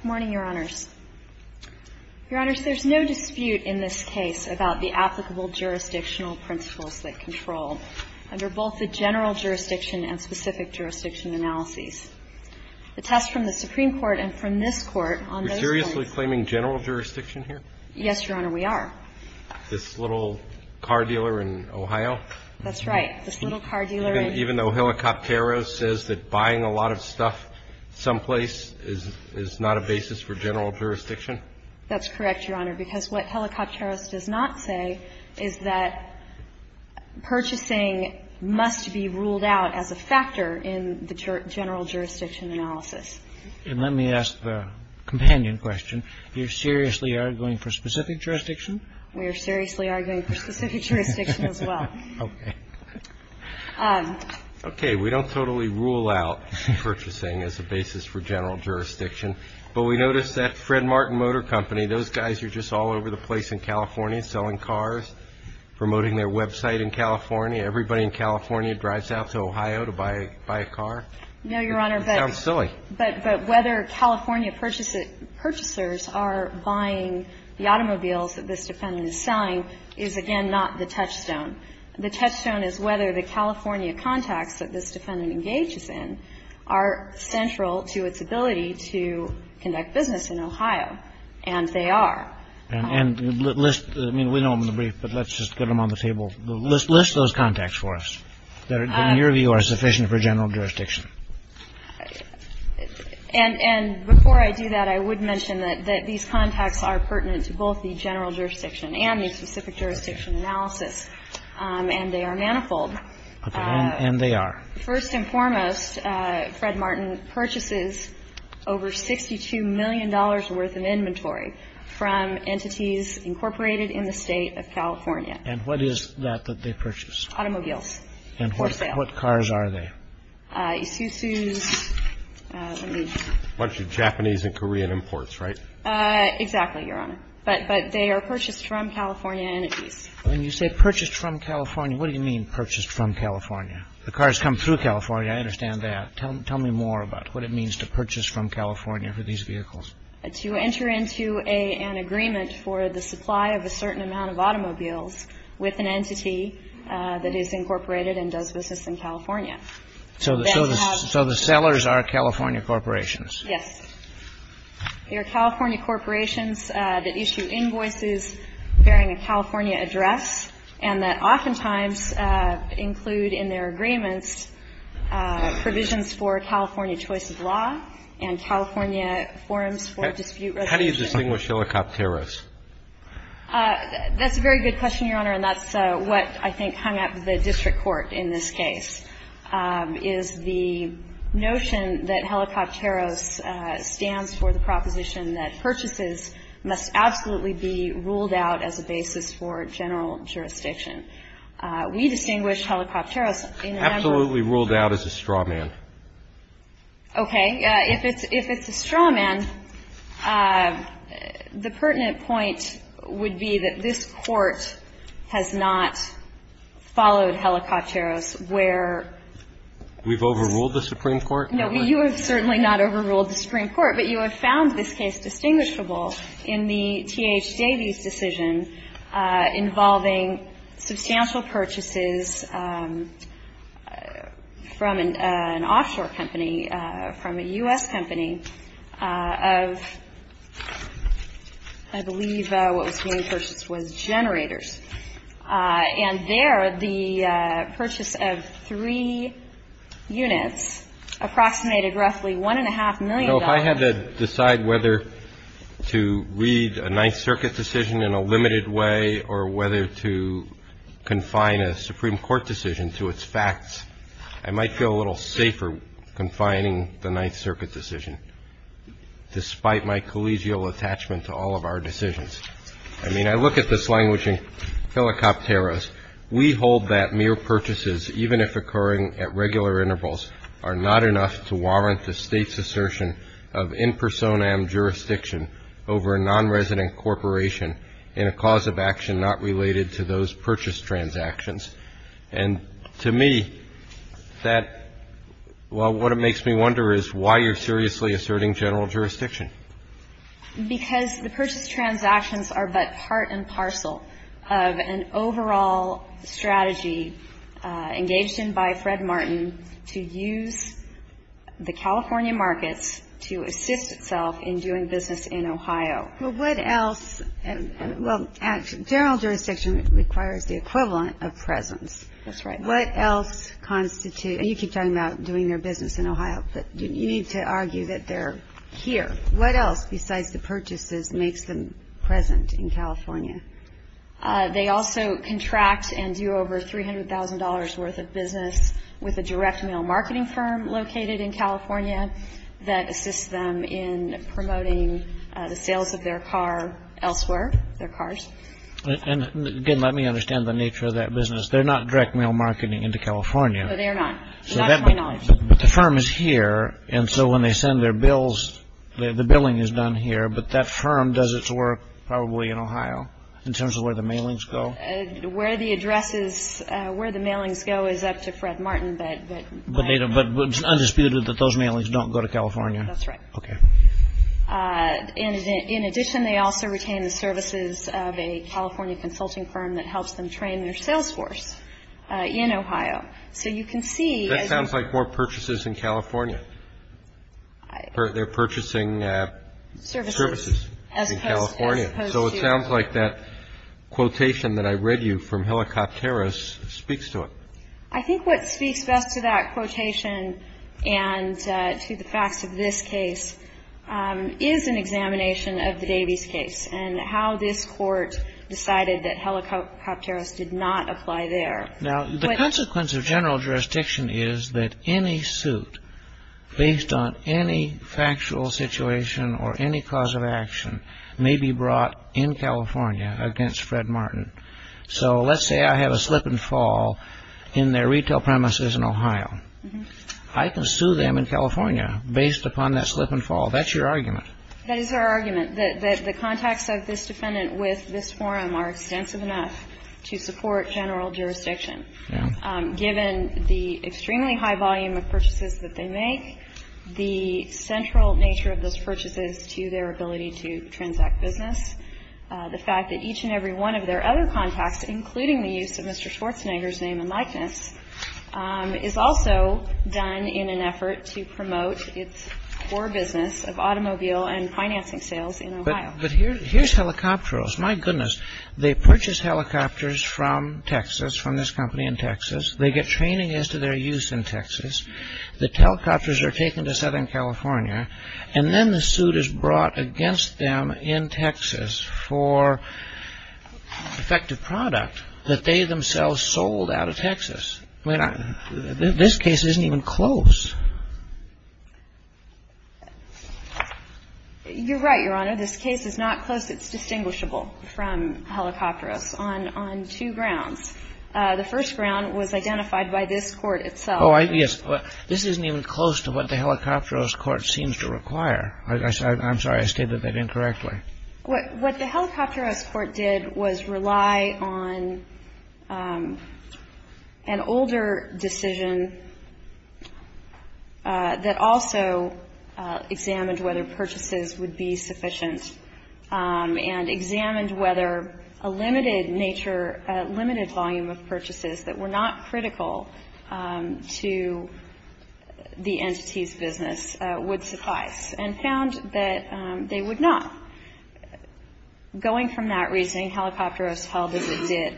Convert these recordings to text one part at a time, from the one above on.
Good morning, Your Honors. Your Honors, there's no dispute in this case about the applicable jurisdictional principles that control under both the general jurisdiction and specific jurisdiction analyses. The test from the Supreme Court and from this Court on those points Are we seriously claiming general jurisdiction here? Yes, Your Honor, we are. This little car dealer in Ohio? That's right. This little car dealer in Ohio, even though Helicopteros says that buying a lot of stuff someplace is not a basis for general jurisdiction? That's correct, Your Honor, because what Helicopteros does not say is that purchasing must be ruled out as a factor in the general jurisdiction analysis. And let me ask the companion question. You're seriously arguing for specific jurisdiction? We are seriously arguing for specific jurisdiction as well. Okay. Okay. We don't totally rule out purchasing as a basis for general jurisdiction, but we notice that Fred Martin Motor Company, those guys are just all over the place in California selling cars, promoting their website in California. Everybody in California drives out to Ohio to buy a car. No, Your Honor, but – It sounds silly. But whether California purchasers are buying the automobiles that this defendant is selling is, again, not the touchstone. The touchstone is whether the California contacts that this defendant engages in are central to its ability to conduct business in Ohio, and they are. And list – I mean, we know them in the brief, but let's just get them on the table. List those contacts for us that, in your view, are sufficient for general jurisdiction. And before I do that, I would mention that these contacts are pertinent to both the general jurisdiction and the specific jurisdiction analysis, and they are manifold. Okay. And they are? First and foremost, Fred Martin purchases over $62 million worth of inventory from entities incorporated in the State of California. And what is that that they purchase? Automobiles for sale. And what cars are they? Isuzu's. A bunch of Japanese and Korean imports, right? Exactly, Your Honor. But they are purchased from California entities. When you say purchased from California, what do you mean, purchased from California? The cars come through California. I understand that. Tell me more about what it means to purchase from California for these vehicles. To enter into an agreement for the supply of a certain amount of automobiles with an entity that is incorporated and does business in California. So the sellers are California corporations? Yes. They are California corporations that issue invoices bearing a California address and that oftentimes include in their agreements provisions for California choice of law and California forums for dispute resolution. How do you distinguish helicopteros? That's a very good question, Your Honor, and that's what I think hung up the district court in this case. Is the notion that helicopteros stands for the proposition that purchases must absolutely be ruled out as a basis for general jurisdiction. We distinguish helicopteros in a number of... Absolutely ruled out as a straw man. Okay. If it's a straw man, the pertinent point would be that this court has not followed helicopteros where... We've overruled the Supreme Court? No. You have certainly not overruled the Supreme Court, but you have found this case distinguishable in the T.H. Davies decision involving substantial purchases from an offshore company, from a U.S. company of, I believe what was the main purchase was generators, and there the purchase of three units approximated roughly $1.5 million. If I had to decide whether to read a Ninth Circuit decision in a limited way or whether to confine a Supreme Court decision to its facts, I might feel a little safer confining the Ninth Circuit decision despite my collegial attachment to all of our decisions. I mean, I look at this language in helicopteros. We hold that mere purchases, even if occurring at regular intervals, are not enough to warrant the State's assertion of in personam jurisdiction over a nonresident corporation in a cause of action not related to those purchase transactions. And to me, that what makes me wonder is why you're seriously asserting general jurisdiction. Because the purchase transactions are but part and parcel of an overall strategy engaged in by Fred Martin to use the California markets to assist itself in doing business in Ohio. Well, what else? Well, general jurisdiction requires the equivalent of presence. That's right. What else constitutes you keep talking about doing their business in Ohio, but you need to argue that they're here. What else besides the purchases makes them present in California? They also contract and do over $300,000 worth of business with a direct mail marketing firm located in California that assists them in promoting the sales of their car elsewhere, their cars. And again, let me understand the nature of that business. They're not direct mail marketing into California. No, they are not. But the firm is here. And so when they send their bills, the billing is done here. But that firm does its work probably in Ohio in terms of where the mailings go, where the addresses, where the mailings go is up to Fred Martin. But it's undisputed that those mailings don't go to California. That's right. OK. And in addition, they also retain the services of a California consulting firm that helps them train their sales force in Ohio. So you can see. That sounds like more purchases in California. They're purchasing services in California. So it sounds like that quotation that I read you from Helicopteris speaks to it. I think what speaks best to that quotation and to the facts of this case is an examination of the Davies case and how this court decided that Helicopteris did not apply there. Now, the consequence of general jurisdiction is that any suit based on any factual situation or any cause of action may be brought in California against Fred Martin. So let's say I have a slip and fall in their retail premises in Ohio. I can sue them in California based upon that slip and fall. That's your argument. That is our argument that the contacts of this defendant with this forum are extensive enough to support general jurisdiction, given the extremely high volume of purchases that they make, the central nature of those purchases to their ability to transact business, the fact that each and every one of their other contacts, including the use of Mr. Schwarzenegger's name and likeness, is also done in an effort to promote its core business of automobile and financing sales in Ohio. But here's Helicopteris. My goodness, they purchase helicopters from Texas, from this company in Texas. They get training as to their use in Texas. The helicopters are taken to Southern California. And then the suit is brought against them in Texas for effective product that they themselves sold out of Texas. I mean, this case isn't even close. You're right, Your Honor. This case is not close. It's distinguishable from Helicopteris on two grounds. The first ground was identified by this court itself. Oh, yes. This isn't even close to what the Helicopteris court seems to require. I'm sorry. I stated that incorrectly. What the Helicopteris court did was rely on an older decision that also examined whether purchases would be sufficient and examined whether a limited nature, limited volume of purchases that were not critical to the entity's business would suffice, and found that they would not. Going from that reasoning, Helicopteris held as it did,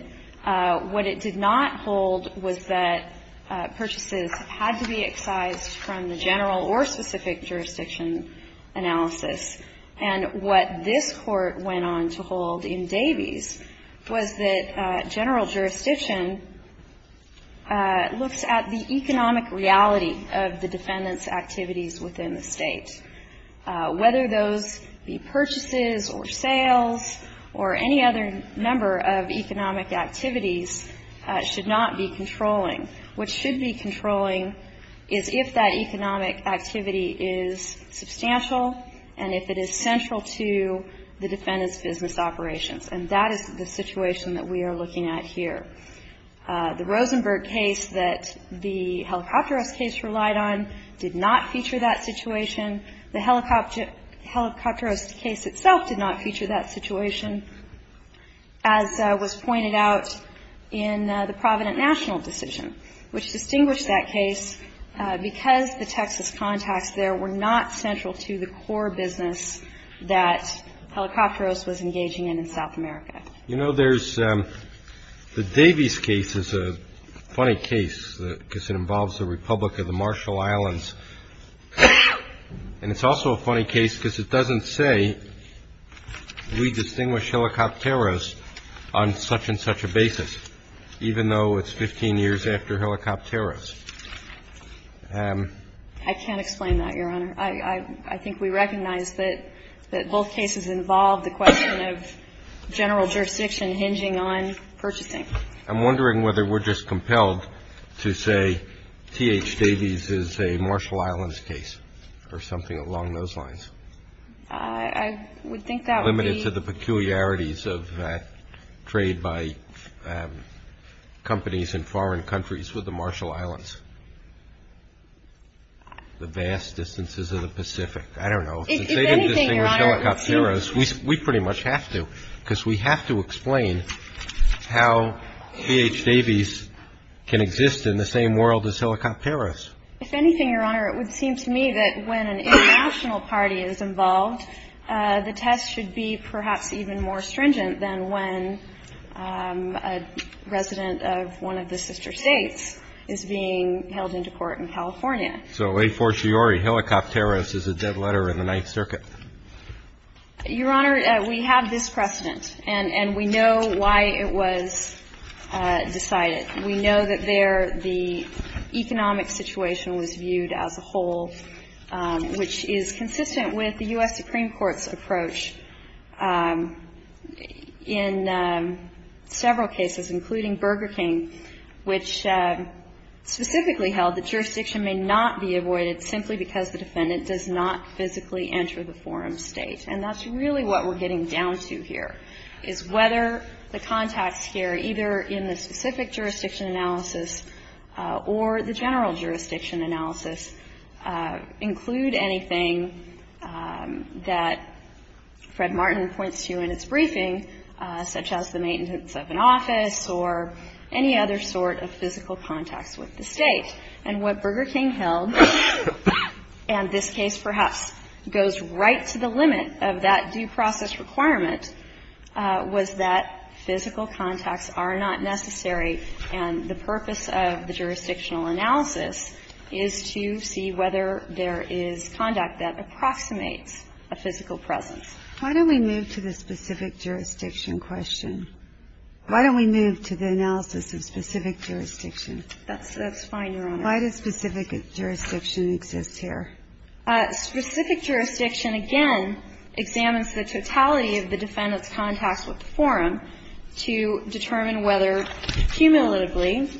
what it did not hold was that it did not hold that the defendant's activities within the state should not be controlling. And what this court went on to hold in Davies was that general jurisdiction looks at the economic reality of the defendant's activities within the state, whether those be purchases or sales or any other number of economic activities, should not be controlling. What should be controlling is if that economic activity is substantial and if it is central to the defendant's business operations. And that is the situation that we are looking at here. The Rosenberg case that the Helicopteris case relied on did not feature that situation. The Helicopteris case itself did not feature that situation, as was pointed out in the Provident National decision, which distinguished that case because the Texas contacts there were not central to the core business that Helicopteris was engaging in in South America. You know, there's the Davies case is a funny case because it involves the Republic of the Marshall Islands. And it's also a funny case because it doesn't say we distinguish Helicopteris on such and such a basis, even though it's 15 years after Helicopteris. I can't explain that, Your Honor. I think we recognize that both cases involve the question of general jurisdiction hinging on purchasing. I'm wondering whether we're just compelled to say T.H. Davies is a Marshall Islands case or something along those lines. I would think that would be. To the peculiarities of trade by companies in foreign countries with the Marshall Islands. The vast distances of the Pacific. I don't know. If they didn't distinguish Helicopteris, we pretty much have to, because we have to explain how T.H. Davies can exist in the same world as Helicopteris. If anything, Your Honor, it would seem to me that when an international party is involved, the test should be perhaps even more stringent than when a resident of one of the sister states is being held into court in California. So a fortiori, Helicopteris is a dead letter in the Ninth Circuit. Your Honor, we have this precedent and we know why it was decided. We know that there the economic situation was viewed as a whole, which is consistent with the U.S. Supreme Court's approach in several cases, including Burger King, which specifically held that jurisdiction may not be avoided simply because the defendant does not physically enter the forum state. And that's really what we're getting down to here, is whether the contacts here, either in the specific jurisdiction analysis or the general jurisdiction analysis, include anything that Fred Martin points to in its briefing, such as the maintenance of an office or any other sort of physical contacts with the state. And what Burger King held, and this case perhaps goes right to the limit of that due process requirement, was that physical contacts are not necessary and the purpose of the conduct that approximates a physical presence. Why don't we move to the specific jurisdiction question? Why don't we move to the analysis of specific jurisdiction? That's fine, Your Honor. Why does specific jurisdiction exist here? Specific jurisdiction, again, examines the totality of the defendant's contacts with the forum to determine whether cumulatively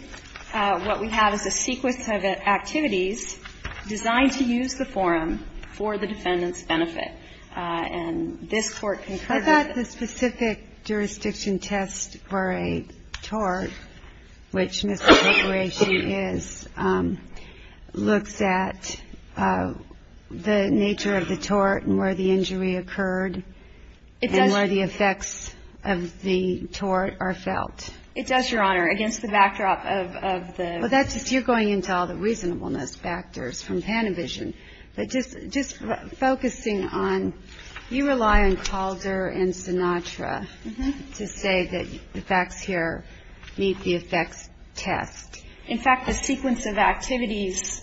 what we have is a sequence of activities designed to use the forum for the defendant's benefit. And this Court concluded that the specific jurisdiction test for a tort, which, Mr. McRae, she is, looks at the nature of the tort and where the injury occurred and where the effects of the tort are felt. It does, Your Honor, against the backdrop of the reasonableness backdrop. I'm not going to go into the details of the factors from Panavision, but just focusing on, you rely on Calder and Sinatra to say that the facts here meet the effects test. In fact, the sequence of activities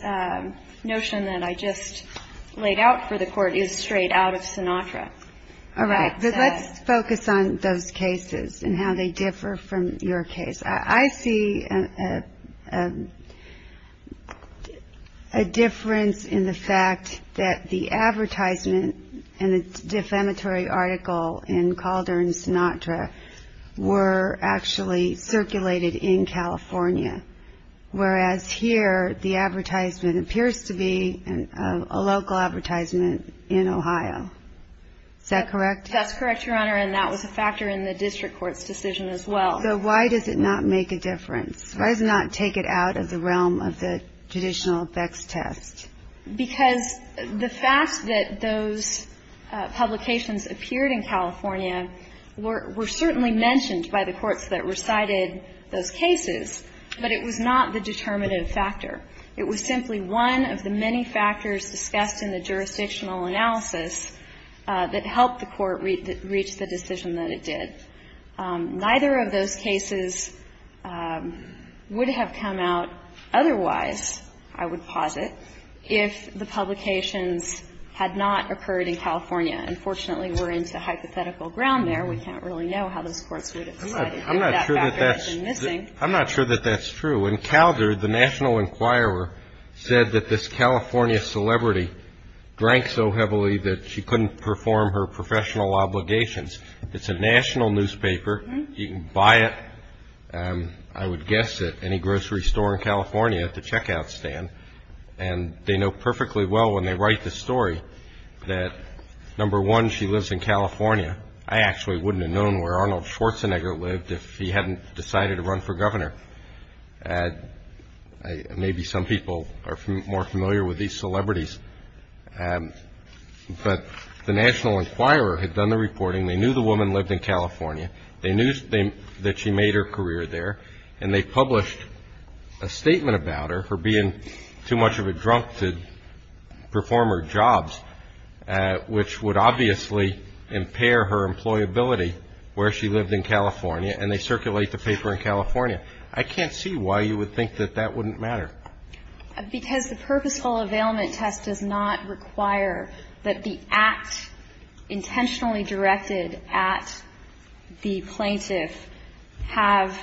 notion that I just laid out for the Court is straight out of Sinatra. All right, but let's focus on those cases and how they differ from your case. I see a difference in the fact that the advertisement and the defamatory article in Calder and Sinatra were actually circulated in California, whereas here, the advertisement appears to be a local advertisement in Ohio. Is that correct? That's correct, Your Honor, and that was a factor in the district court's decision as well. So why does it not make a difference? Why does it not take it out of the realm of the traditional effects test? Because the fact that those publications appeared in California were certainly mentioned by the courts that recited those cases, but it was not the determinative factor. It was simply one of the many factors discussed in the jurisdictional analysis that helped the court reach the decision that it did. Neither of those cases would have come out otherwise, I would posit, if the publications had not occurred in California. Unfortunately, we're into hypothetical ground there. We can't really know how those courts would have decided. That factor has been missing. I'm not sure that that's true. In Calder, the National Enquirer said that this California celebrity drank so heavily that she couldn't perform her professional obligations. It's a national newspaper. You can buy it, I would guess, at any grocery store in California at the checkout stand, and they know perfectly well when they write the story that, number one, she lives in California. I actually wouldn't have known where Arnold Schwarzenegger lived if he hadn't decided to run for governor. Maybe some people are more familiar with these celebrities. But the National Enquirer had done the reporting. They knew the woman lived in California. They knew that she made her career there. And they published a statement about her for being too much of a drunk to perform her jobs, which would obviously impair her employability where she lived in California, and they circulate the paper in California. I can't see why you would think that that wouldn't matter. Because the purposeful availment test does not require that the act intentionally directed at the plaintiff have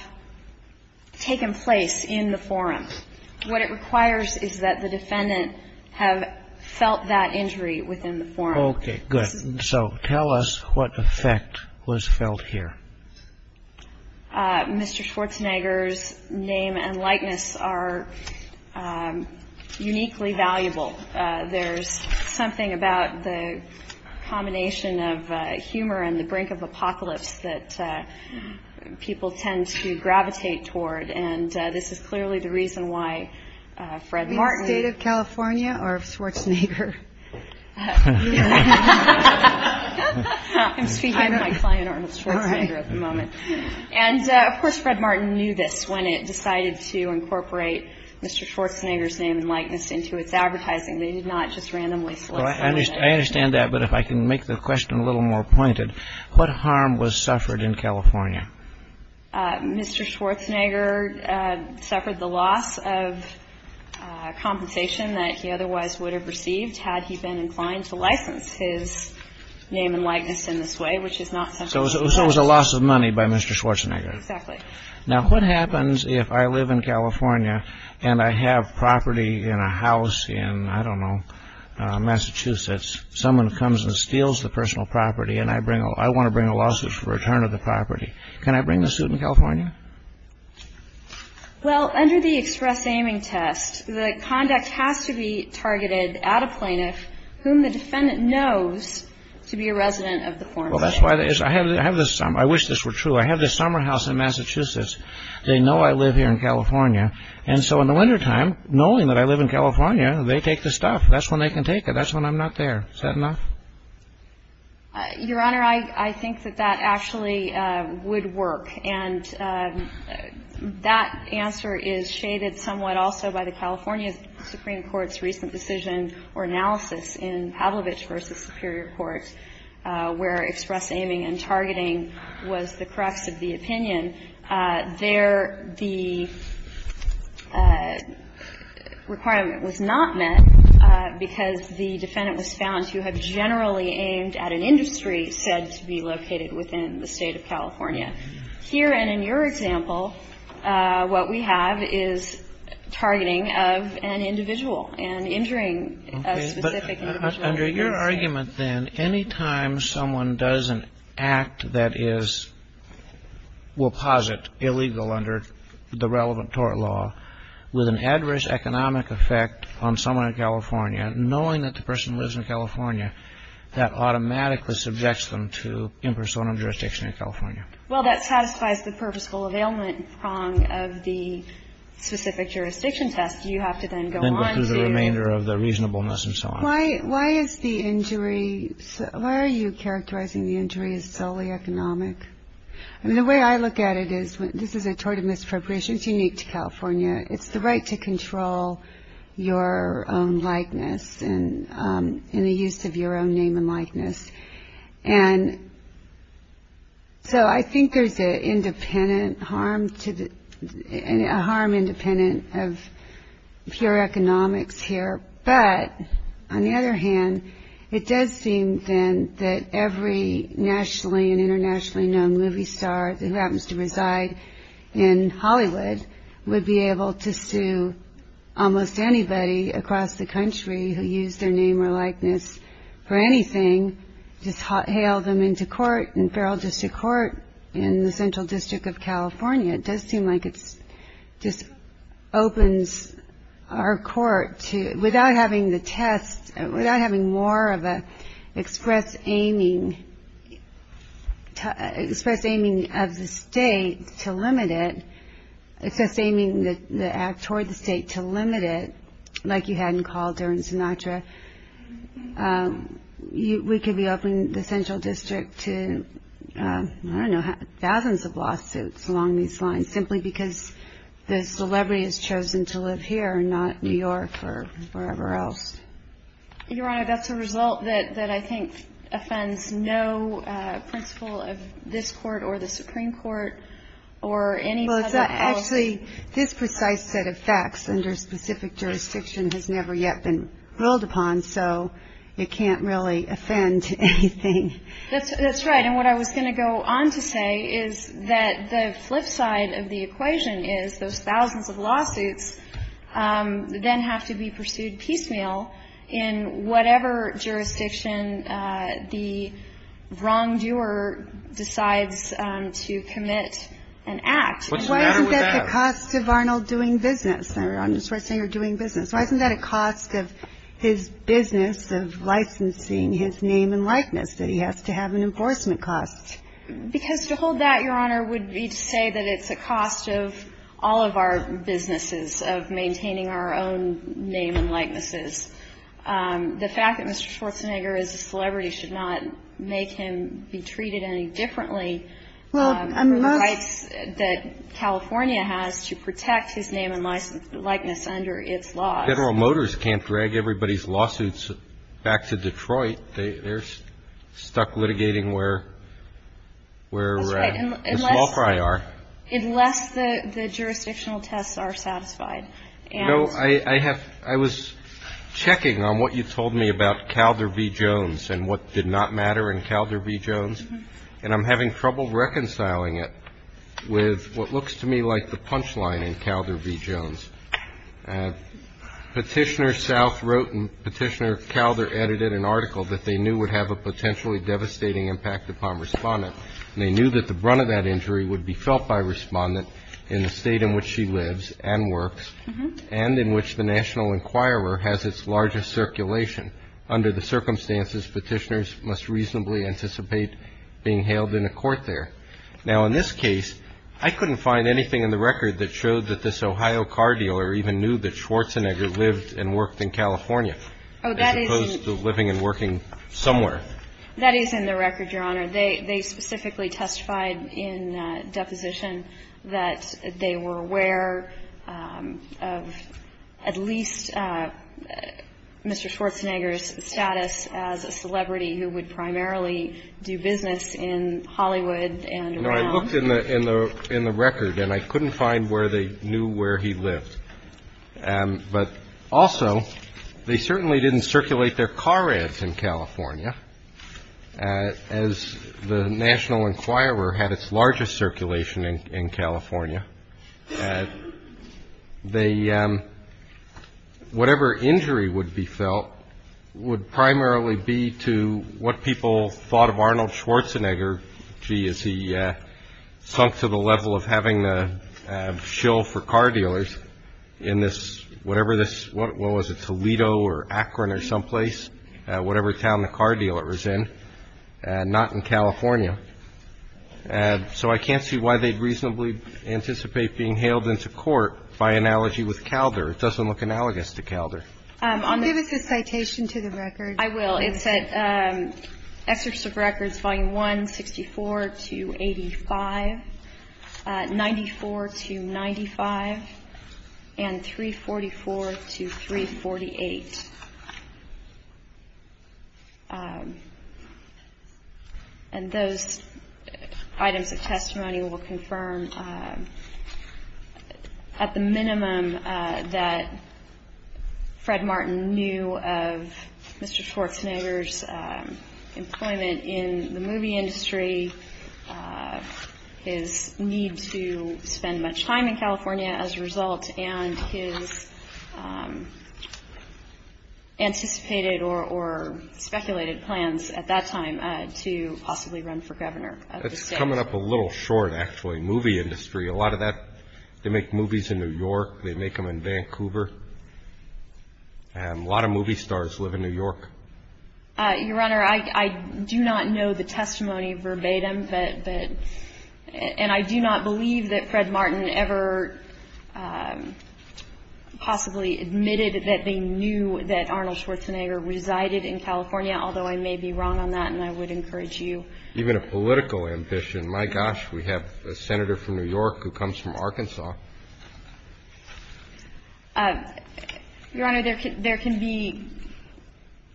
taken place in the forum. What it requires is that the defendant have felt that injury within the forum. Okay, good. So tell us what effect was felt here. Mr. Schwarzenegger's name and likeness are uniquely valuable. There's something about the combination of humor and the brink of apocalypse that people tend to gravitate toward. And this is clearly the reason why Fred Martin – Be it the state of California or of Schwarzenegger? I'm speaking to my client Arnold Schwarzenegger at the moment. And, of course, Fred Martin knew this when it decided to incorporate Mr. Schwarzenegger's name and likeness into its advertising. They did not just randomly select someone. I understand that. But if I can make the question a little more pointed, what harm was suffered in California? Mr. Schwarzenegger suffered the loss of compensation that he otherwise would have received had he been inclined to license his name and likeness in this way, which is not something that's – So it was a loss of money by Mr. Schwarzenegger. Exactly. Now, what happens if I live in California and I have property in a house in, I don't know, Massachusetts? Someone comes and steals the personal property and I bring – I want to bring a lawsuit for return of the property. Can I bring the suit in California? Well, under the express aiming test, the conduct has to be targeted at a plaintiff whom the defendant knows to be a resident of the former state. Well, that's why – I have this – I wish this were true. I have this summer house in Massachusetts. They know I live here in California. And so in the wintertime, knowing that I live in California, they take the stuff. That's when they can take it. That's when I'm not there. Is that enough? Your Honor, I think that that actually would work. And that answer is shaded somewhat also by the California Supreme Court's recent decision or analysis in Pavlovich v. Superior Court, where express aiming and targeting was the crux of the opinion. There, the requirement was not met because the defendant was found to have generally aimed at an industry said to be located within the State of California. Here, and in your example, what we have is targeting of an individual and injuring a specific individual. Under your argument, then, any time someone does an act that is – will posit illegal under the relevant tort law with an adverse economic effect on someone in California, knowing that the person lives in California, that automatically subjects them to impersonal jurisdiction in California. Well, that satisfies the purposeful availment prong of the specific jurisdiction test. You have to then go on to – Then go through the remainder of the reasonableness and so on. Why is the injury – why are you characterizing the injury as solely economic? I mean, the way I look at it is this is a tort of misappropriation. It's unique to California. It's the right to control your own likeness and the use of your own name and likeness. And so I think there's an independent harm to the – a harm independent of pure economics here. But, on the other hand, it does seem, then, that every nationally and internationally known movie star who happens to reside in Hollywood would be able to sue almost anybody across the country who used their name or likeness for anything. Just hail them into court in feral district court in the central district of California. It does seem like it just opens our court to – without having the test, without having more of an express aiming of the state to limit it, express aiming the act toward the state to limit it, like you had in Calder and Sinatra, we could be opening the central district to, I don't know, thousands of lawsuits along these lines simply because the celebrity has chosen to live here and not New York or wherever else. Your Honor, that's a result that I think offends no principle of this court or the Supreme Court or any public policy. Actually, this precise set of facts under specific jurisdiction has never yet been ruled upon, so it can't really offend anything. That's right. And what I was going to go on to say is that the flip side of the equation is those thousands of lawsuits then have to be pursued piecemeal in whatever jurisdiction the wrongdoer decides to commit an act. What's the matter with that? Why isn't that the cost of Arnold doing business, Senator Arnold Schwarzenegger doing business? Why isn't that a cost of his business of licensing his name and likeness, that he has to have an enforcement cost? Because to hold that, Your Honor, would be to say that it's a cost of all of our businesses, of maintaining our own name and likenesses. The fact that Mr. Schwarzenegger is a celebrity should not make him be treated any differently. Well, I'm not. For the rights that California has to protect his name and likeness under its laws. Federal Motors can't drag everybody's lawsuits back to Detroit. They're stuck litigating where Ms. Laufrey are. Unless the jurisdictional tests are satisfied. No, I was checking on what you told me about Calder v. Jones and what did not matter in Calder v. Jones, and I'm having trouble reconciling it with what looks to me like the punchline in Calder v. Jones. Petitioner South wrote and Petitioner Calder edited an article that they knew would have a potentially devastating impact upon Respondent. They knew that the brunt of that injury would be felt by Respondent in the state in which she lives and works and in which the National Enquirer has its largest circulation. Under the circumstances, petitioners must reasonably anticipate being hailed in a court there. Now, in this case, I couldn't find anything in the record that showed that this Ohio car dealer even knew that Schwarzenegger lived and worked in California as opposed to living and working somewhere. That is in the record, Your Honor. They specifically testified in deposition that they were aware of at least Mr. Schwarzenegger's status as a celebrity who would primarily do business in Hollywood and around. No, I looked in the record, and I couldn't find where they knew where he lived. But also, they certainly didn't circulate their car ads in California, as the National Enquirer had its largest circulation in California. The whatever injury would be felt would primarily be to what people thought of Arnold Schwarzenegger. Gee, is he sunk to the level of having the shill for car dealers in this whatever this what was it Toledo or Akron or someplace, whatever town the car dealer was in and not in California. So I can't see why they'd reasonably anticipate being hailed into court by analogy with Calder. It doesn't look analogous to Calder. Give us a citation to the record. I will. It's at Exegetive Records, Volume 1, 64 to 85, 94 to 95, and 344 to 348. And those items of testimony will confirm at the minimum that Fred Martin knew of Mr. Schwarzenegger's employment in the or speculated plans at that time to possibly run for governor. That's coming up a little short, actually. Movie industry, a lot of that, they make movies in New York. They make them in Vancouver. A lot of movie stars live in New York. Your Honor, I do not know the testimony verbatim, and I do not believe that Fred Martin ever possibly admitted that they knew that Arnold Schwarzenegger resided in California, although I may be wrong on that, and I would encourage you. Even a political ambition. My gosh, we have a senator from New York who comes from Arkansas. Your Honor, there can be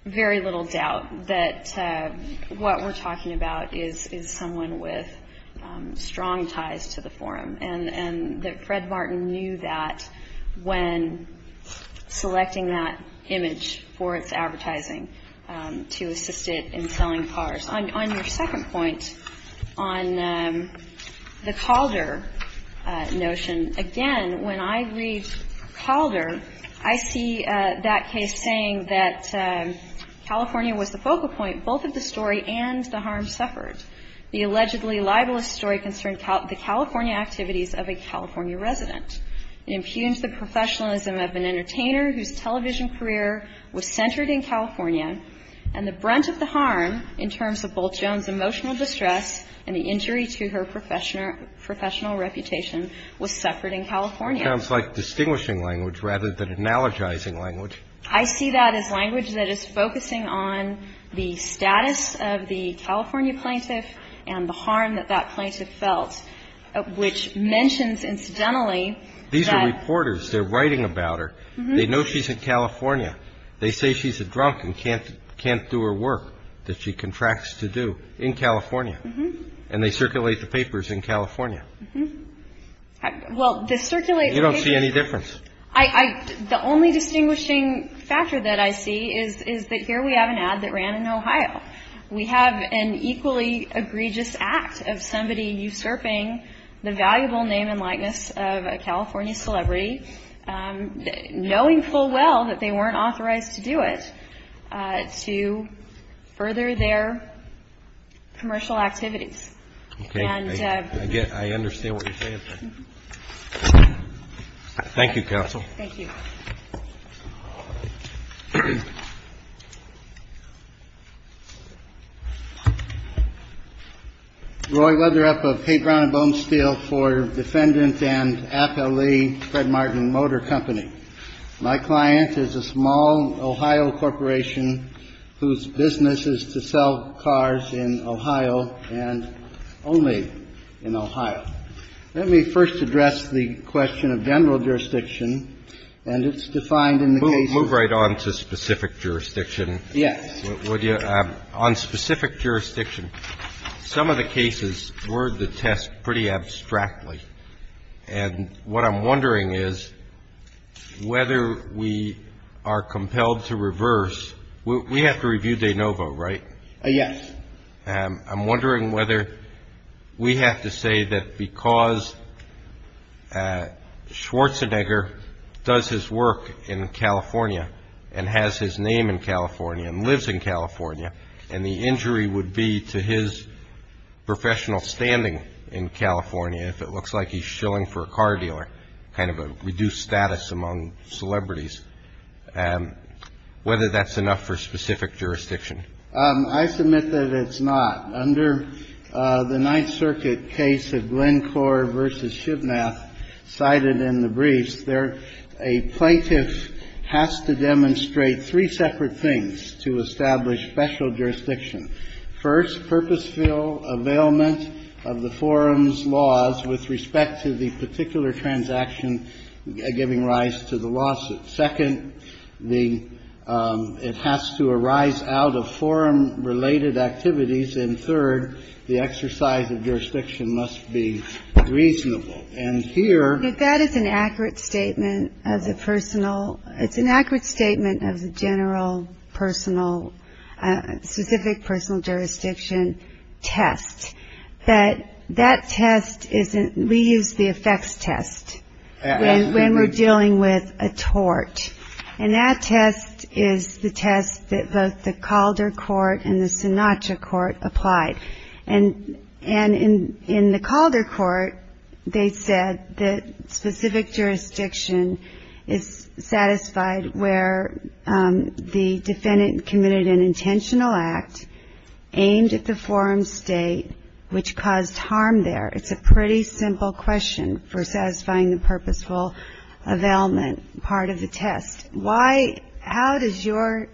very little doubt that what we're talking about is someone with strong ties to the forum, and that Fred Martin knew that when selecting that image for its advertising to assist it in selling cars. On your second point, on the Calder notion, again, when I read Calder, I see that case saying that California was the focal point. Both of the story and the harm suffered. The allegedly libelous story concerned the California activities of a California resident. It impugned the professionalism of an entertainer whose television career was centered in California, and the brunt of the harm in terms of Bolt Jones's emotional distress and the injury to her professional reputation was suffered in California. It sounds like distinguishing language rather than analogizing language. I see that as language that is focusing on the status of the California plaintiff and the harm that that plaintiff felt, which mentions incidentally that. These are reporters. They're writing about her. They know she's in California. They say she's a drunk and can't do her work that she contracts to do in California, and they circulate the papers in California. Well, the circulated papers. You don't see any difference. The only distinguishing factor that I see is that here we have an ad that ran in Ohio. We have an equally egregious act of somebody usurping the valuable name and likeness of a California celebrity, knowing full well that they weren't authorized to do it, to further their commercial activities. Okay. I understand what you're saying. Thank you, Counsel. Thank you. Roy Weatherup of Haight Brown and Bonesteel for Defendant and Appellee Fred Martin Motor Company. My client is a small Ohio corporation whose business is to sell cars in Ohio and only in Ohio. Let me first address the question of general jurisdiction, and it's defined in the case. Move right on to specific jurisdiction. Yes. Would you? On specific jurisdiction, some of the cases were the test pretty abstractly. And what I'm wondering is whether we are compelled to reverse. We have to review de novo, right? Yes. I'm wondering whether we have to say that because Schwarzenegger does his work in California and has his name in California and lives in California, and the injury would be to his professional standing in California if it looks like he's shilling for a car dealer, kind of a reduced status among celebrities, whether that's enough for specific jurisdiction. I submit that it's not. Under the Ninth Circuit case of Glencore v. Shibnath cited in the briefs, a plaintiff has to demonstrate three separate things to establish special jurisdiction. First, purposeful availment of the forum's laws with respect to the particular transaction giving rise to the lawsuit. Second, it has to arise out of forum related activities. And third, the exercise of jurisdiction must be reasonable. And here. That is an accurate statement of the personal. It's an accurate statement of the general personal, specific personal jurisdiction test. That test, we use the effects test when we're dealing with a tort. And that test is the test that both the Calder court and the Sinatra court applied. And in the Calder court, they said that specific jurisdiction is satisfied where the defendant committed an intentional act aimed at the forum's state, which caused harm there. It's a pretty simple question for satisfying the purposeful availment part of the test. Why — how does your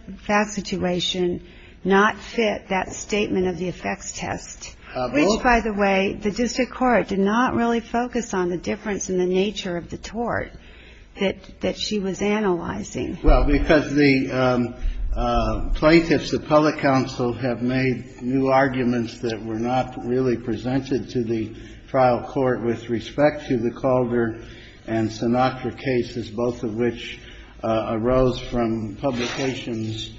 situation not fit that statement of the effects test, which, by the way, the district court did not really focus on the difference in the nature of the tort that she was analyzing? Well, because the plaintiffs of public counsel have made new arguments that were not really presented to the trial court with respect to the Calder and Sinatra cases, both of which arose from publications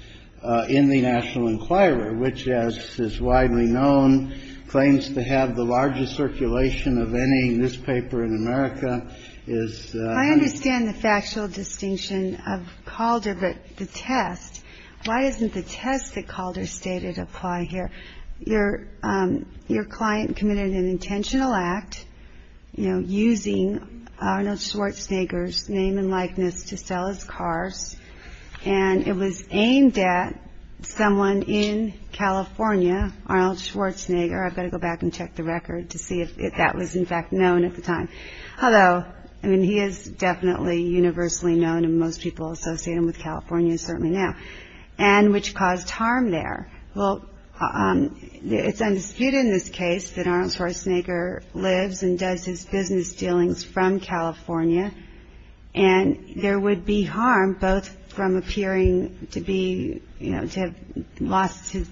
in the National Enquirer, which, as is widely known, claims to have the largest circulation of any newspaper in America. I understand the factual distinction of Calder, but the test — why doesn't the test that Calder stated apply here? Your client committed an intentional act using Arnold Schwarzenegger's name and likeness to sell his cars, and it was aimed at someone in California, Arnold Schwarzenegger. I've got to go back and check the record to see if that was, in fact, known at the time. Although, I mean, he is definitely universally known, and most people associate him with California, certainly now, and which caused harm there. Well, it's undisputed in this case that Arnold Schwarzenegger lives and does his business dealings from California, and there would be harm both from appearing to be — you know, to have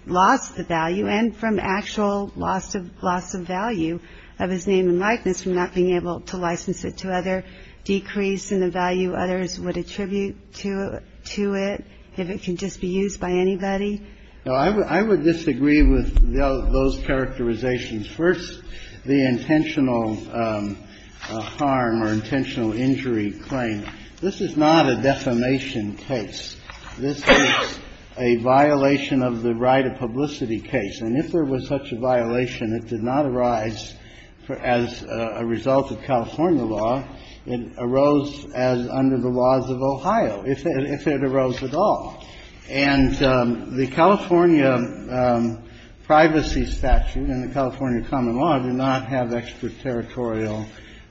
lost the value, and from actual loss of value of his name and likeness from not being able to license it to other decrease in the value others would attribute to it, if it can just be used by anybody. No, I would disagree with those characterizations. First, the intentional harm or intentional injury claim. This is not a defamation case. This is a violation of the right of publicity case. And if there was such a violation, it did not arise as a result of California law. It arose as under the laws of Ohio, if it arose at all. And the California privacy statute and the California common law do not have extraterritorial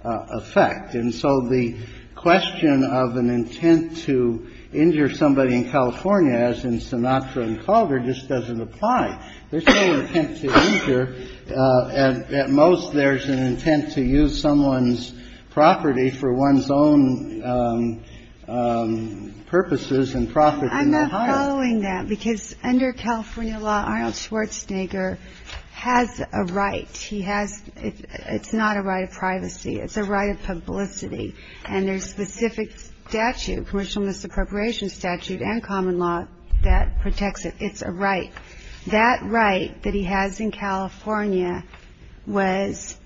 effect. And so the question of an intent to injure somebody in California, as in Sinatra and Calder, just doesn't apply. There's no intent to injure. At most, there's an intent to use someone's property for one's own purposes and profit in Ohio. I'm not following that, because under California law, Arnold Schwarzenegger has a right. He has — it's not a right of privacy. It's a right of publicity. And there's specific statute, commercial misappropriation statute and common law, that protects it. It's a right. That right that he has in California was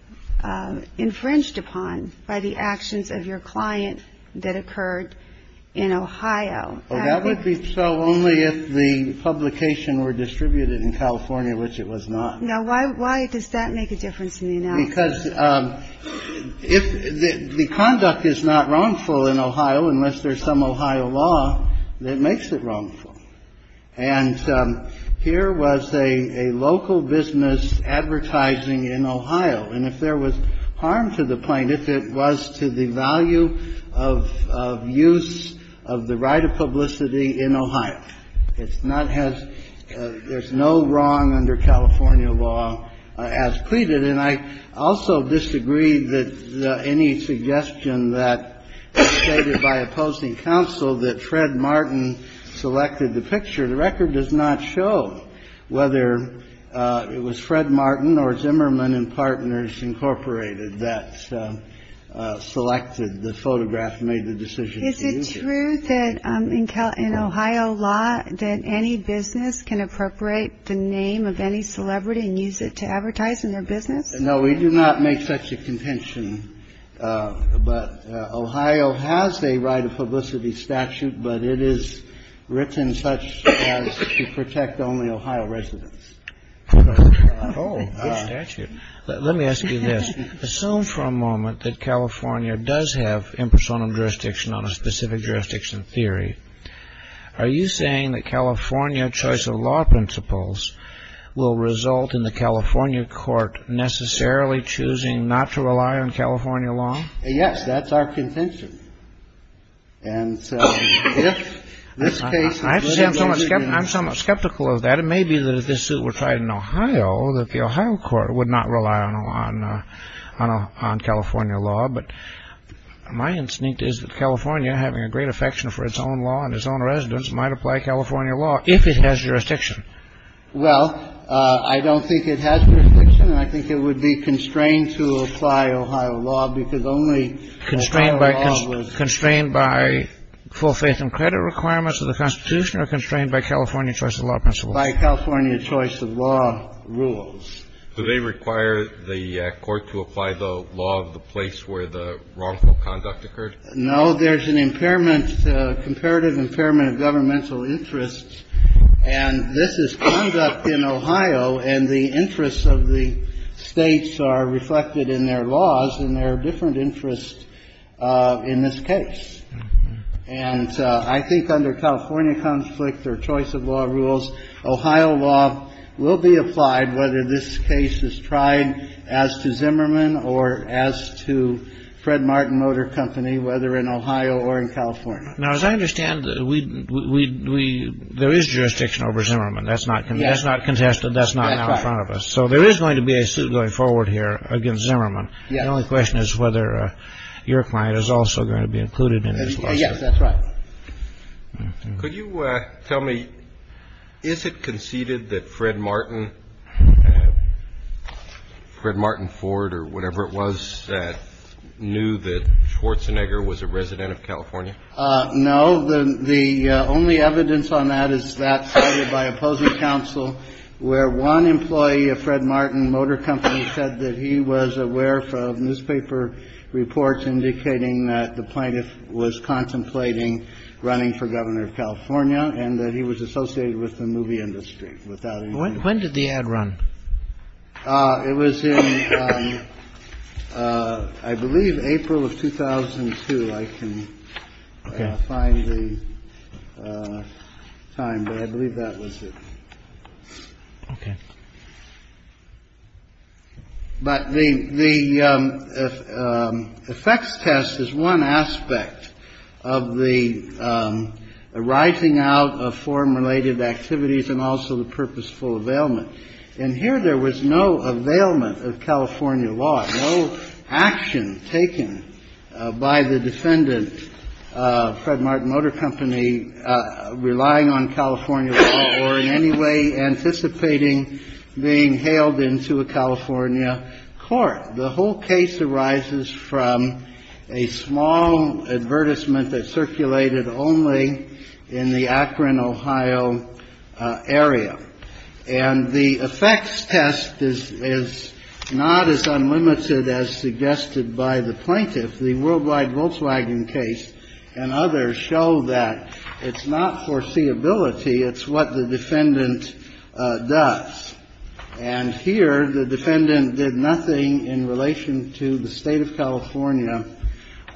infringed upon by the actions of your client that occurred in Ohio. That would be so only if the publication were distributed in California, which it was not. Because if — the conduct is not wrongful in Ohio unless there's some Ohio law that makes it wrongful. And here was a local business advertising in Ohio. And if there was harm to the plaintiff, it was to the value of use of the right of publicity in Ohio. It's not as — there's no wrong under California law as pleaded. And I also disagree that any suggestion that was stated by opposing counsel that Fred Martin selected the picture. The record does not show whether it was Fred Martin or Zimmerman and Partners Incorporated that selected the photograph and made the decision to use it. Ohio law that any business can appropriate the name of any celebrity and use it to advertise in their business. No, we do not make such a contention. But Ohio has a right of publicity statute. But it is written such as to protect only Ohio residents. Oh, let me ask you this. Assume for a moment that California does have impersonal jurisdiction on a specific jurisdiction theory. Are you saying that California choice of law principles will result in the California court necessarily choosing not to rely on California law? Yes, that's our contention. And if this case — I'm somewhat skeptical of that. It may be that if this suit were tried in Ohio, that the Ohio court would not rely on California law. But my instinct is that California, having a great affection for its own law and its own residents, might apply California law if it has jurisdiction. Well, I don't think it has jurisdiction. I think it would be constrained to apply Ohio law because only — Constrained by full faith and credit requirements of the Constitution or constrained by California choice of law principles? By California choice of law rules. Do they require the court to apply the law of the place where the wrongful conduct occurred? No. There's an impairment, comparative impairment of governmental interests. And this is conduct in Ohio. And the interests of the States are reflected in their laws. And there are different interests in this case. And I think under California conflict or choice of law rules, Ohio law will be applied whether this case is tried as to Zimmerman or as to Fred Martin Motor Company, whether in Ohio or in California. Now, as I understand, we — there is jurisdiction over Zimmerman. That's not contested. That's not now in front of us. So there is going to be a suit going forward here against Zimmerman. The only question is whether your client is also going to be included in this lawsuit. Yes, that's right. Could you tell me, is it conceded that Fred Martin, Fred Martin Ford or whatever it was, knew that Schwarzenegger was a resident of California? No. The only evidence on that is that cited by opposing counsel, where one employee of Fred Martin Motor Company said that he was aware of newspaper reports indicating that the plaintiff was contemplating running for governor of California and that he was associated with the movie industry. When did the ad run? It was in, I believe, April of 2002. I can't find the time, but I believe that was it. Okay. But the effects test is one aspect of the writing out of form-related activities and also the purposeful availment. And here there was no availment of California law, no action taken by the defendant, Fred Martin Motor Company, relying on California law or in any way anticipating being hailed into a California court. The whole case arises from a small advertisement that circulated only in the Akron, Ohio, area. And the effects test is not as unlimited as suggested by the plaintiff. The Worldwide Volkswagen case and others show that it's not foreseeability. It's what the defendant does. And here the defendant did nothing in relation to the State of California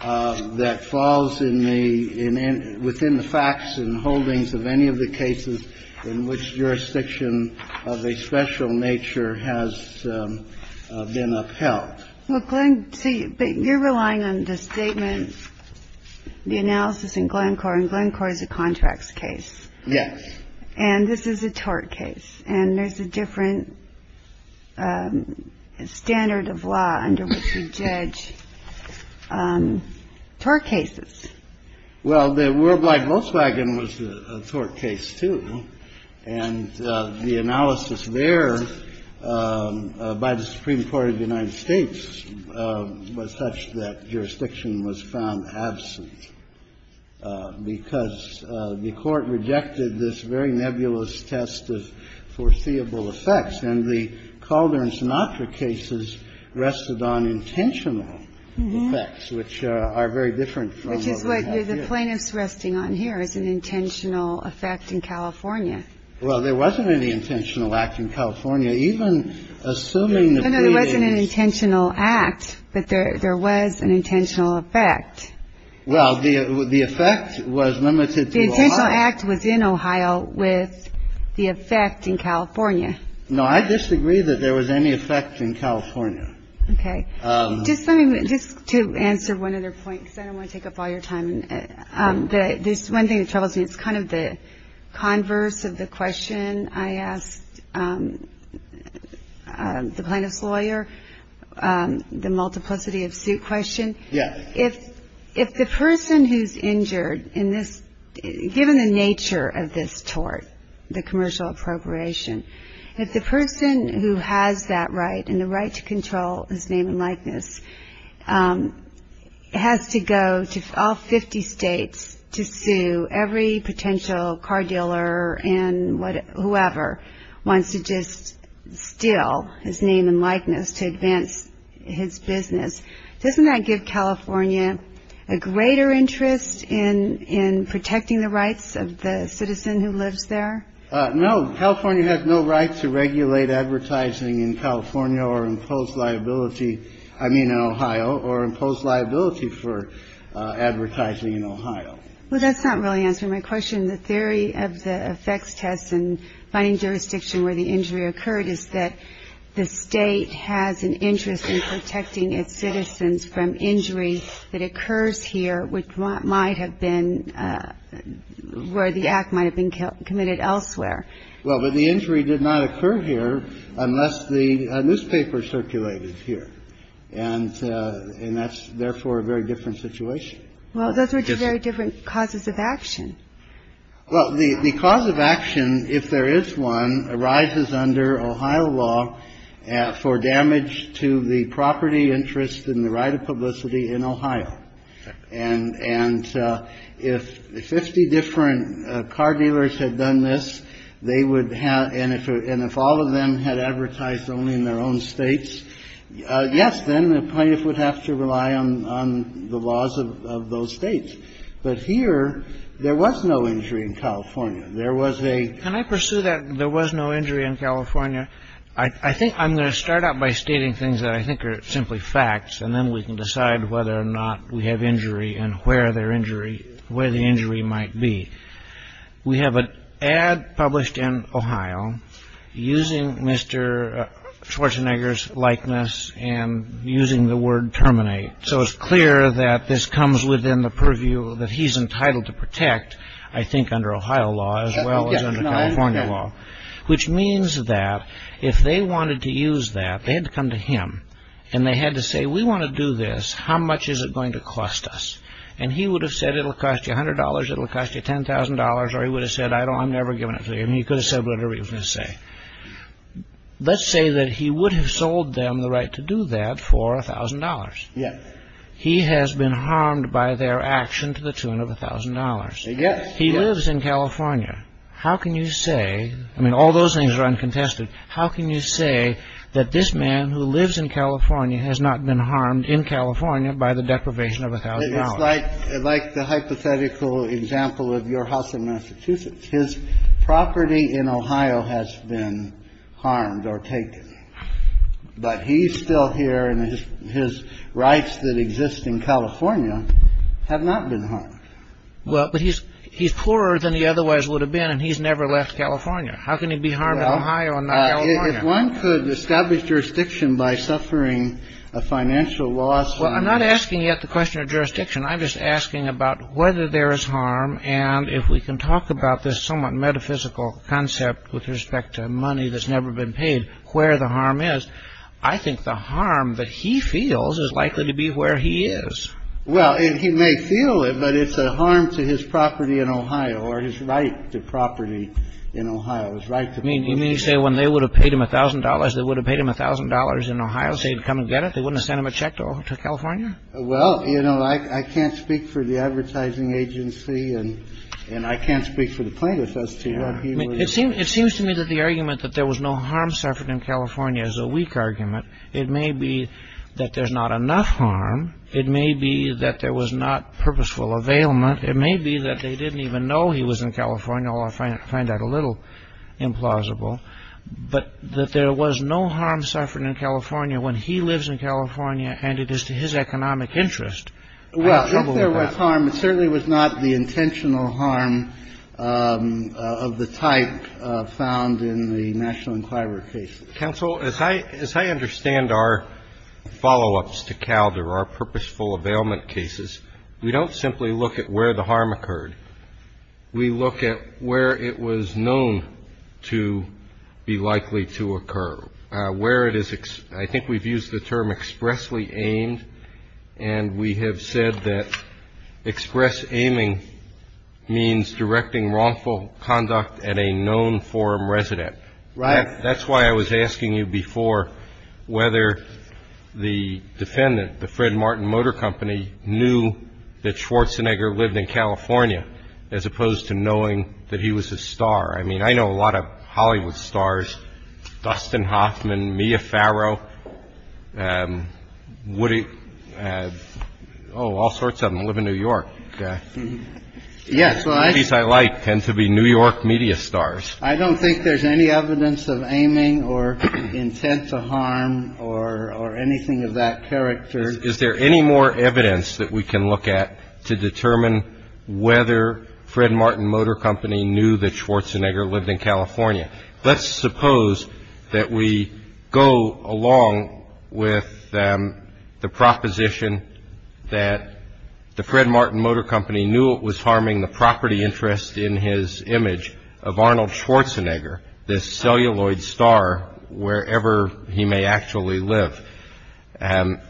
that falls within the facts and holdings of any of the cases in which jurisdiction of a special nature has been upheld. Well, Glenn, so you're relying on the statement, the analysis in Glencore, and Glencore is a contracts case. Yes. And this is a tort case. And there's a different standard of law under which you judge tort cases. Well, the Worldwide Volkswagen was a tort case, too. And the analysis there by the Supreme Court of the United States was such that jurisdiction was found absent because the court rejected this very nebulous test of foreseeable effects. And the Calder and Sinatra cases rested on intentional effects, which are very different from what we have here. Which is what the plaintiff's resting on here, is an intentional effect in California. Well, there wasn't any intentional act in California. Even assuming the pleadings. No, no, there wasn't an intentional act, but there was an intentional effect. Well, the effect was limited to Ohio. The intentional act was in Ohio with the effect in California. No, I disagree that there was any effect in California. Okay. Just let me just to answer one other point, because I don't want to take up all your time. There's one thing that troubles me. It's kind of the converse of the question I asked the plaintiff's lawyer, the multiplicity of suit question. Yeah. If the person who's injured in this, given the nature of this tort, the commercial appropriation, if the person who has that right and the right to control his name and likeness has to go to all 50 states to sue every potential car dealer and whoever wants to just steal his name and likeness to advance his business, doesn't that give California a greater interest in in protecting the rights of the citizen who lives there? No, California has no right to regulate advertising in California or impose liability. I mean, Ohio or impose liability for advertising in Ohio. Well, that's not really answering my question. The theory of the effects tests and finding jurisdiction where the injury occurred is that the state has an interest in protecting its citizens from injury that occurs here, which might have been where the act might have been committed elsewhere. Well, but the injury did not occur here unless the newspaper circulated here. And that's therefore a very different situation. Well, those are two very different causes of action. Well, the cause of action, if there is one, arises under Ohio law for damage to the property interest and the right of publicity in Ohio. And if 50 different car dealers had done this, they would have. And if all of them had advertised only in their own states, yes, then the plaintiff would have to rely on the laws of those states. But here there was no injury in California. There was a. Can I pursue that? There was no injury in California. I think I'm going to start out by stating things that I think are simply facts, and then we can decide whether or not we have injury and where their injury where the injury might be. We have an ad published in Ohio using Mr. Schwarzenegger's likeness and using the word terminate, so it's clear that this comes within the purview that he's entitled to protect, I think, under Ohio law as well as California law, which means that if they wanted to use that, they had to come to him and they had to say, we want to do this. How much is it going to cost us? And he would have said it'll cost you one hundred dollars. It'll cost you ten thousand dollars. Or he would have said, I don't I'm never giving it to him. He could have said whatever he was going to say. Let's say that he would have sold them the right to do that for a thousand dollars. Yes. He has been harmed by their action to the tune of a thousand dollars. Yes. He lives in California. How can you say I mean, all those things are uncontested. How can you say that this man who lives in California has not been harmed in California by the deprivation of a thousand dollars? It's like the hypothetical example of your house in Massachusetts. His property in Ohio has been harmed or taken. But he's still here and his rights that exist in California have not been harmed. Well, but he's he's poorer than he otherwise would have been and he's never left California. How can he be harmed in Ohio and not California? If one could establish jurisdiction by suffering a financial loss. Well, I'm not asking you at the question of jurisdiction. I'm just asking about whether there is harm. And if we can talk about this somewhat metaphysical concept with respect to money that's never been paid, where the harm is. I think the harm that he feels is likely to be where he is. Well, he may feel it, but it's a harm to his property in Ohio or his right to property in Ohio is right. You say when they would have paid him a thousand dollars, they would have paid him a thousand dollars in Ohio. They'd come and get it. They wouldn't send him a check to California. Well, you know, I can't speak for the advertising agency and I can't speak for the plaintiff. It seems to me that the argument that there was no harm suffered in California is a weak argument. It may be that there's not enough harm. It may be that there was not purposeful availment. It may be that they didn't even know he was in California. I don't know. I find that a little implausible. But that there was no harm suffered in California when he lives in California and it is to his economic interest. Well, if there was harm, it certainly was not the intentional harm of the type found in the National Enquirer case. Counsel, as I understand our follow-ups to Calder, our purposeful availment cases, we don't simply look at where the harm occurred. We look at where it was known to be likely to occur, where it is. I think we've used the term expressly aimed. And we have said that express aiming means directing wrongful conduct at a known forum resident. Right. That's why I was asking you before whether the defendant, the Fred Martin Motor Company, knew that Schwarzenegger lived in California as opposed to knowing that he was a star. I mean, I know a lot of Hollywood stars. Dustin Hoffman, Mia Farrow, Woody. Oh, all sorts of them live in New York. Yes. I like tend to be New York media stars. I don't think there's any evidence of aiming or intent to harm or anything of that character. Is there any more evidence that we can look at to determine whether Fred Martin Motor Company knew that Schwarzenegger lived in California? Let's suppose that we go along with the proposition that the Fred Martin Motor Company knew it was harming the property interest in his image of Arnold Schwarzenegger, this celluloid star, wherever he may actually live. And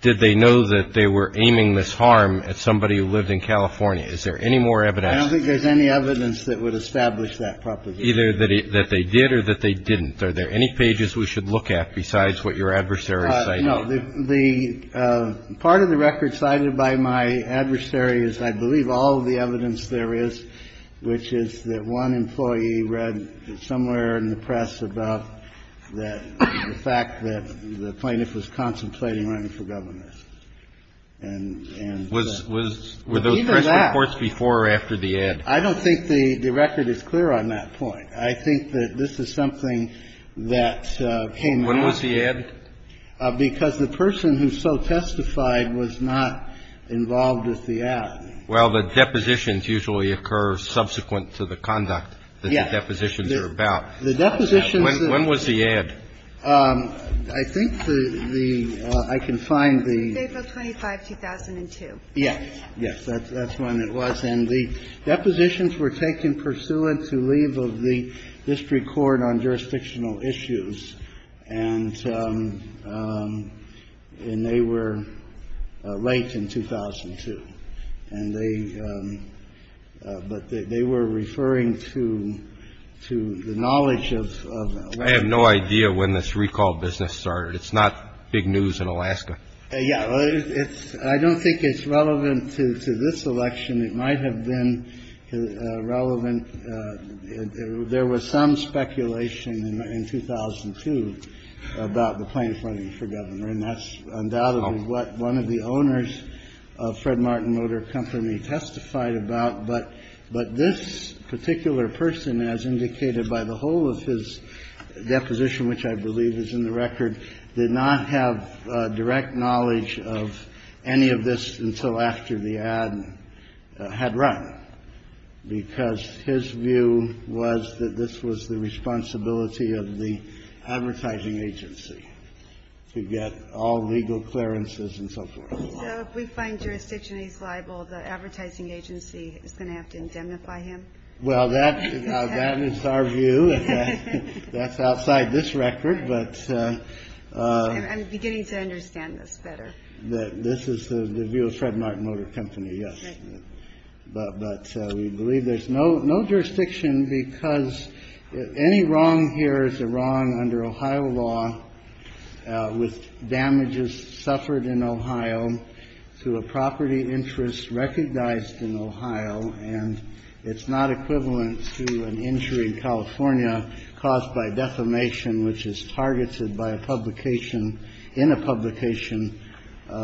did they know that they were aiming this harm at somebody who lived in California? Is there any more evidence? I don't think there's any evidence that would establish that proposition. Either that they did or that they didn't. Are there any pages we should look at besides what your adversaries say? No, the part of the record cited by my adversaries, I believe all of the evidence there is, which is that one employee read somewhere in the press about the fact that the plaintiff was contemplating running for governor. And was was with those reports before or after the ad? I don't think the record is clear on that point. I think that this is something that came when was the ad? Because the person who so testified was not involved with the ad. Well, the depositions usually occur subsequent to the conduct that the depositions are about. Yes. The depositions are about. When was the ad? I think the the I can find the. April 25, 2002. Yes. Yes. That's when it was. And the depositions were taken pursuant to leave of the district court on jurisdictional issues. And they were late in 2002. And they but they were referring to to the knowledge of. I have no idea when this recall business started. It's not big news in Alaska. Yeah. It's I don't think it's relevant to this election. It might have been relevant. There was some speculation in 2002 about the plaintiff running for governor. And that's undoubtedly what one of the owners of Fred Martin Motor Company testified about. But but this particular person, as indicated by the whole of his deposition, which I believe is in the record, did not have direct knowledge of any of this until after the ad had run, because his view was that this was the responsibility of the advertising agency to get all legal clearances and so forth. We find jurisdiction is liable. The advertising agency is going to have to indemnify him. Well, that is our view. That's outside this record. But I'm beginning to understand this better. This is the view of Fred Martin Motor Company. Yes. But we believe there's no no jurisdiction because any wrong here is a wrong under Ohio law with damages suffered in Ohio to a property interest recognized in Ohio. And it's not equivalent to an injury in California caused by defamation, which is targeted by a publication in a publication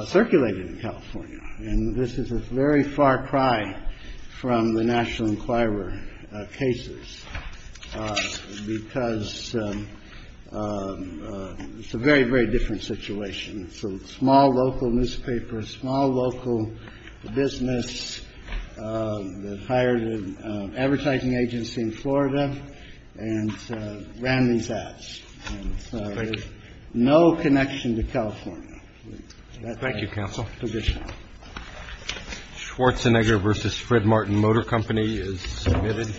circulated in California. And this is a very far cry from the National Enquirer cases because it's a very, very different situation. So small local newspaper, small local business that hired an advertising agency in Florida and ran these ads. No connection to California. Thank you, counsel. Schwarzenegger versus Fred Martin Motor Company is submitted.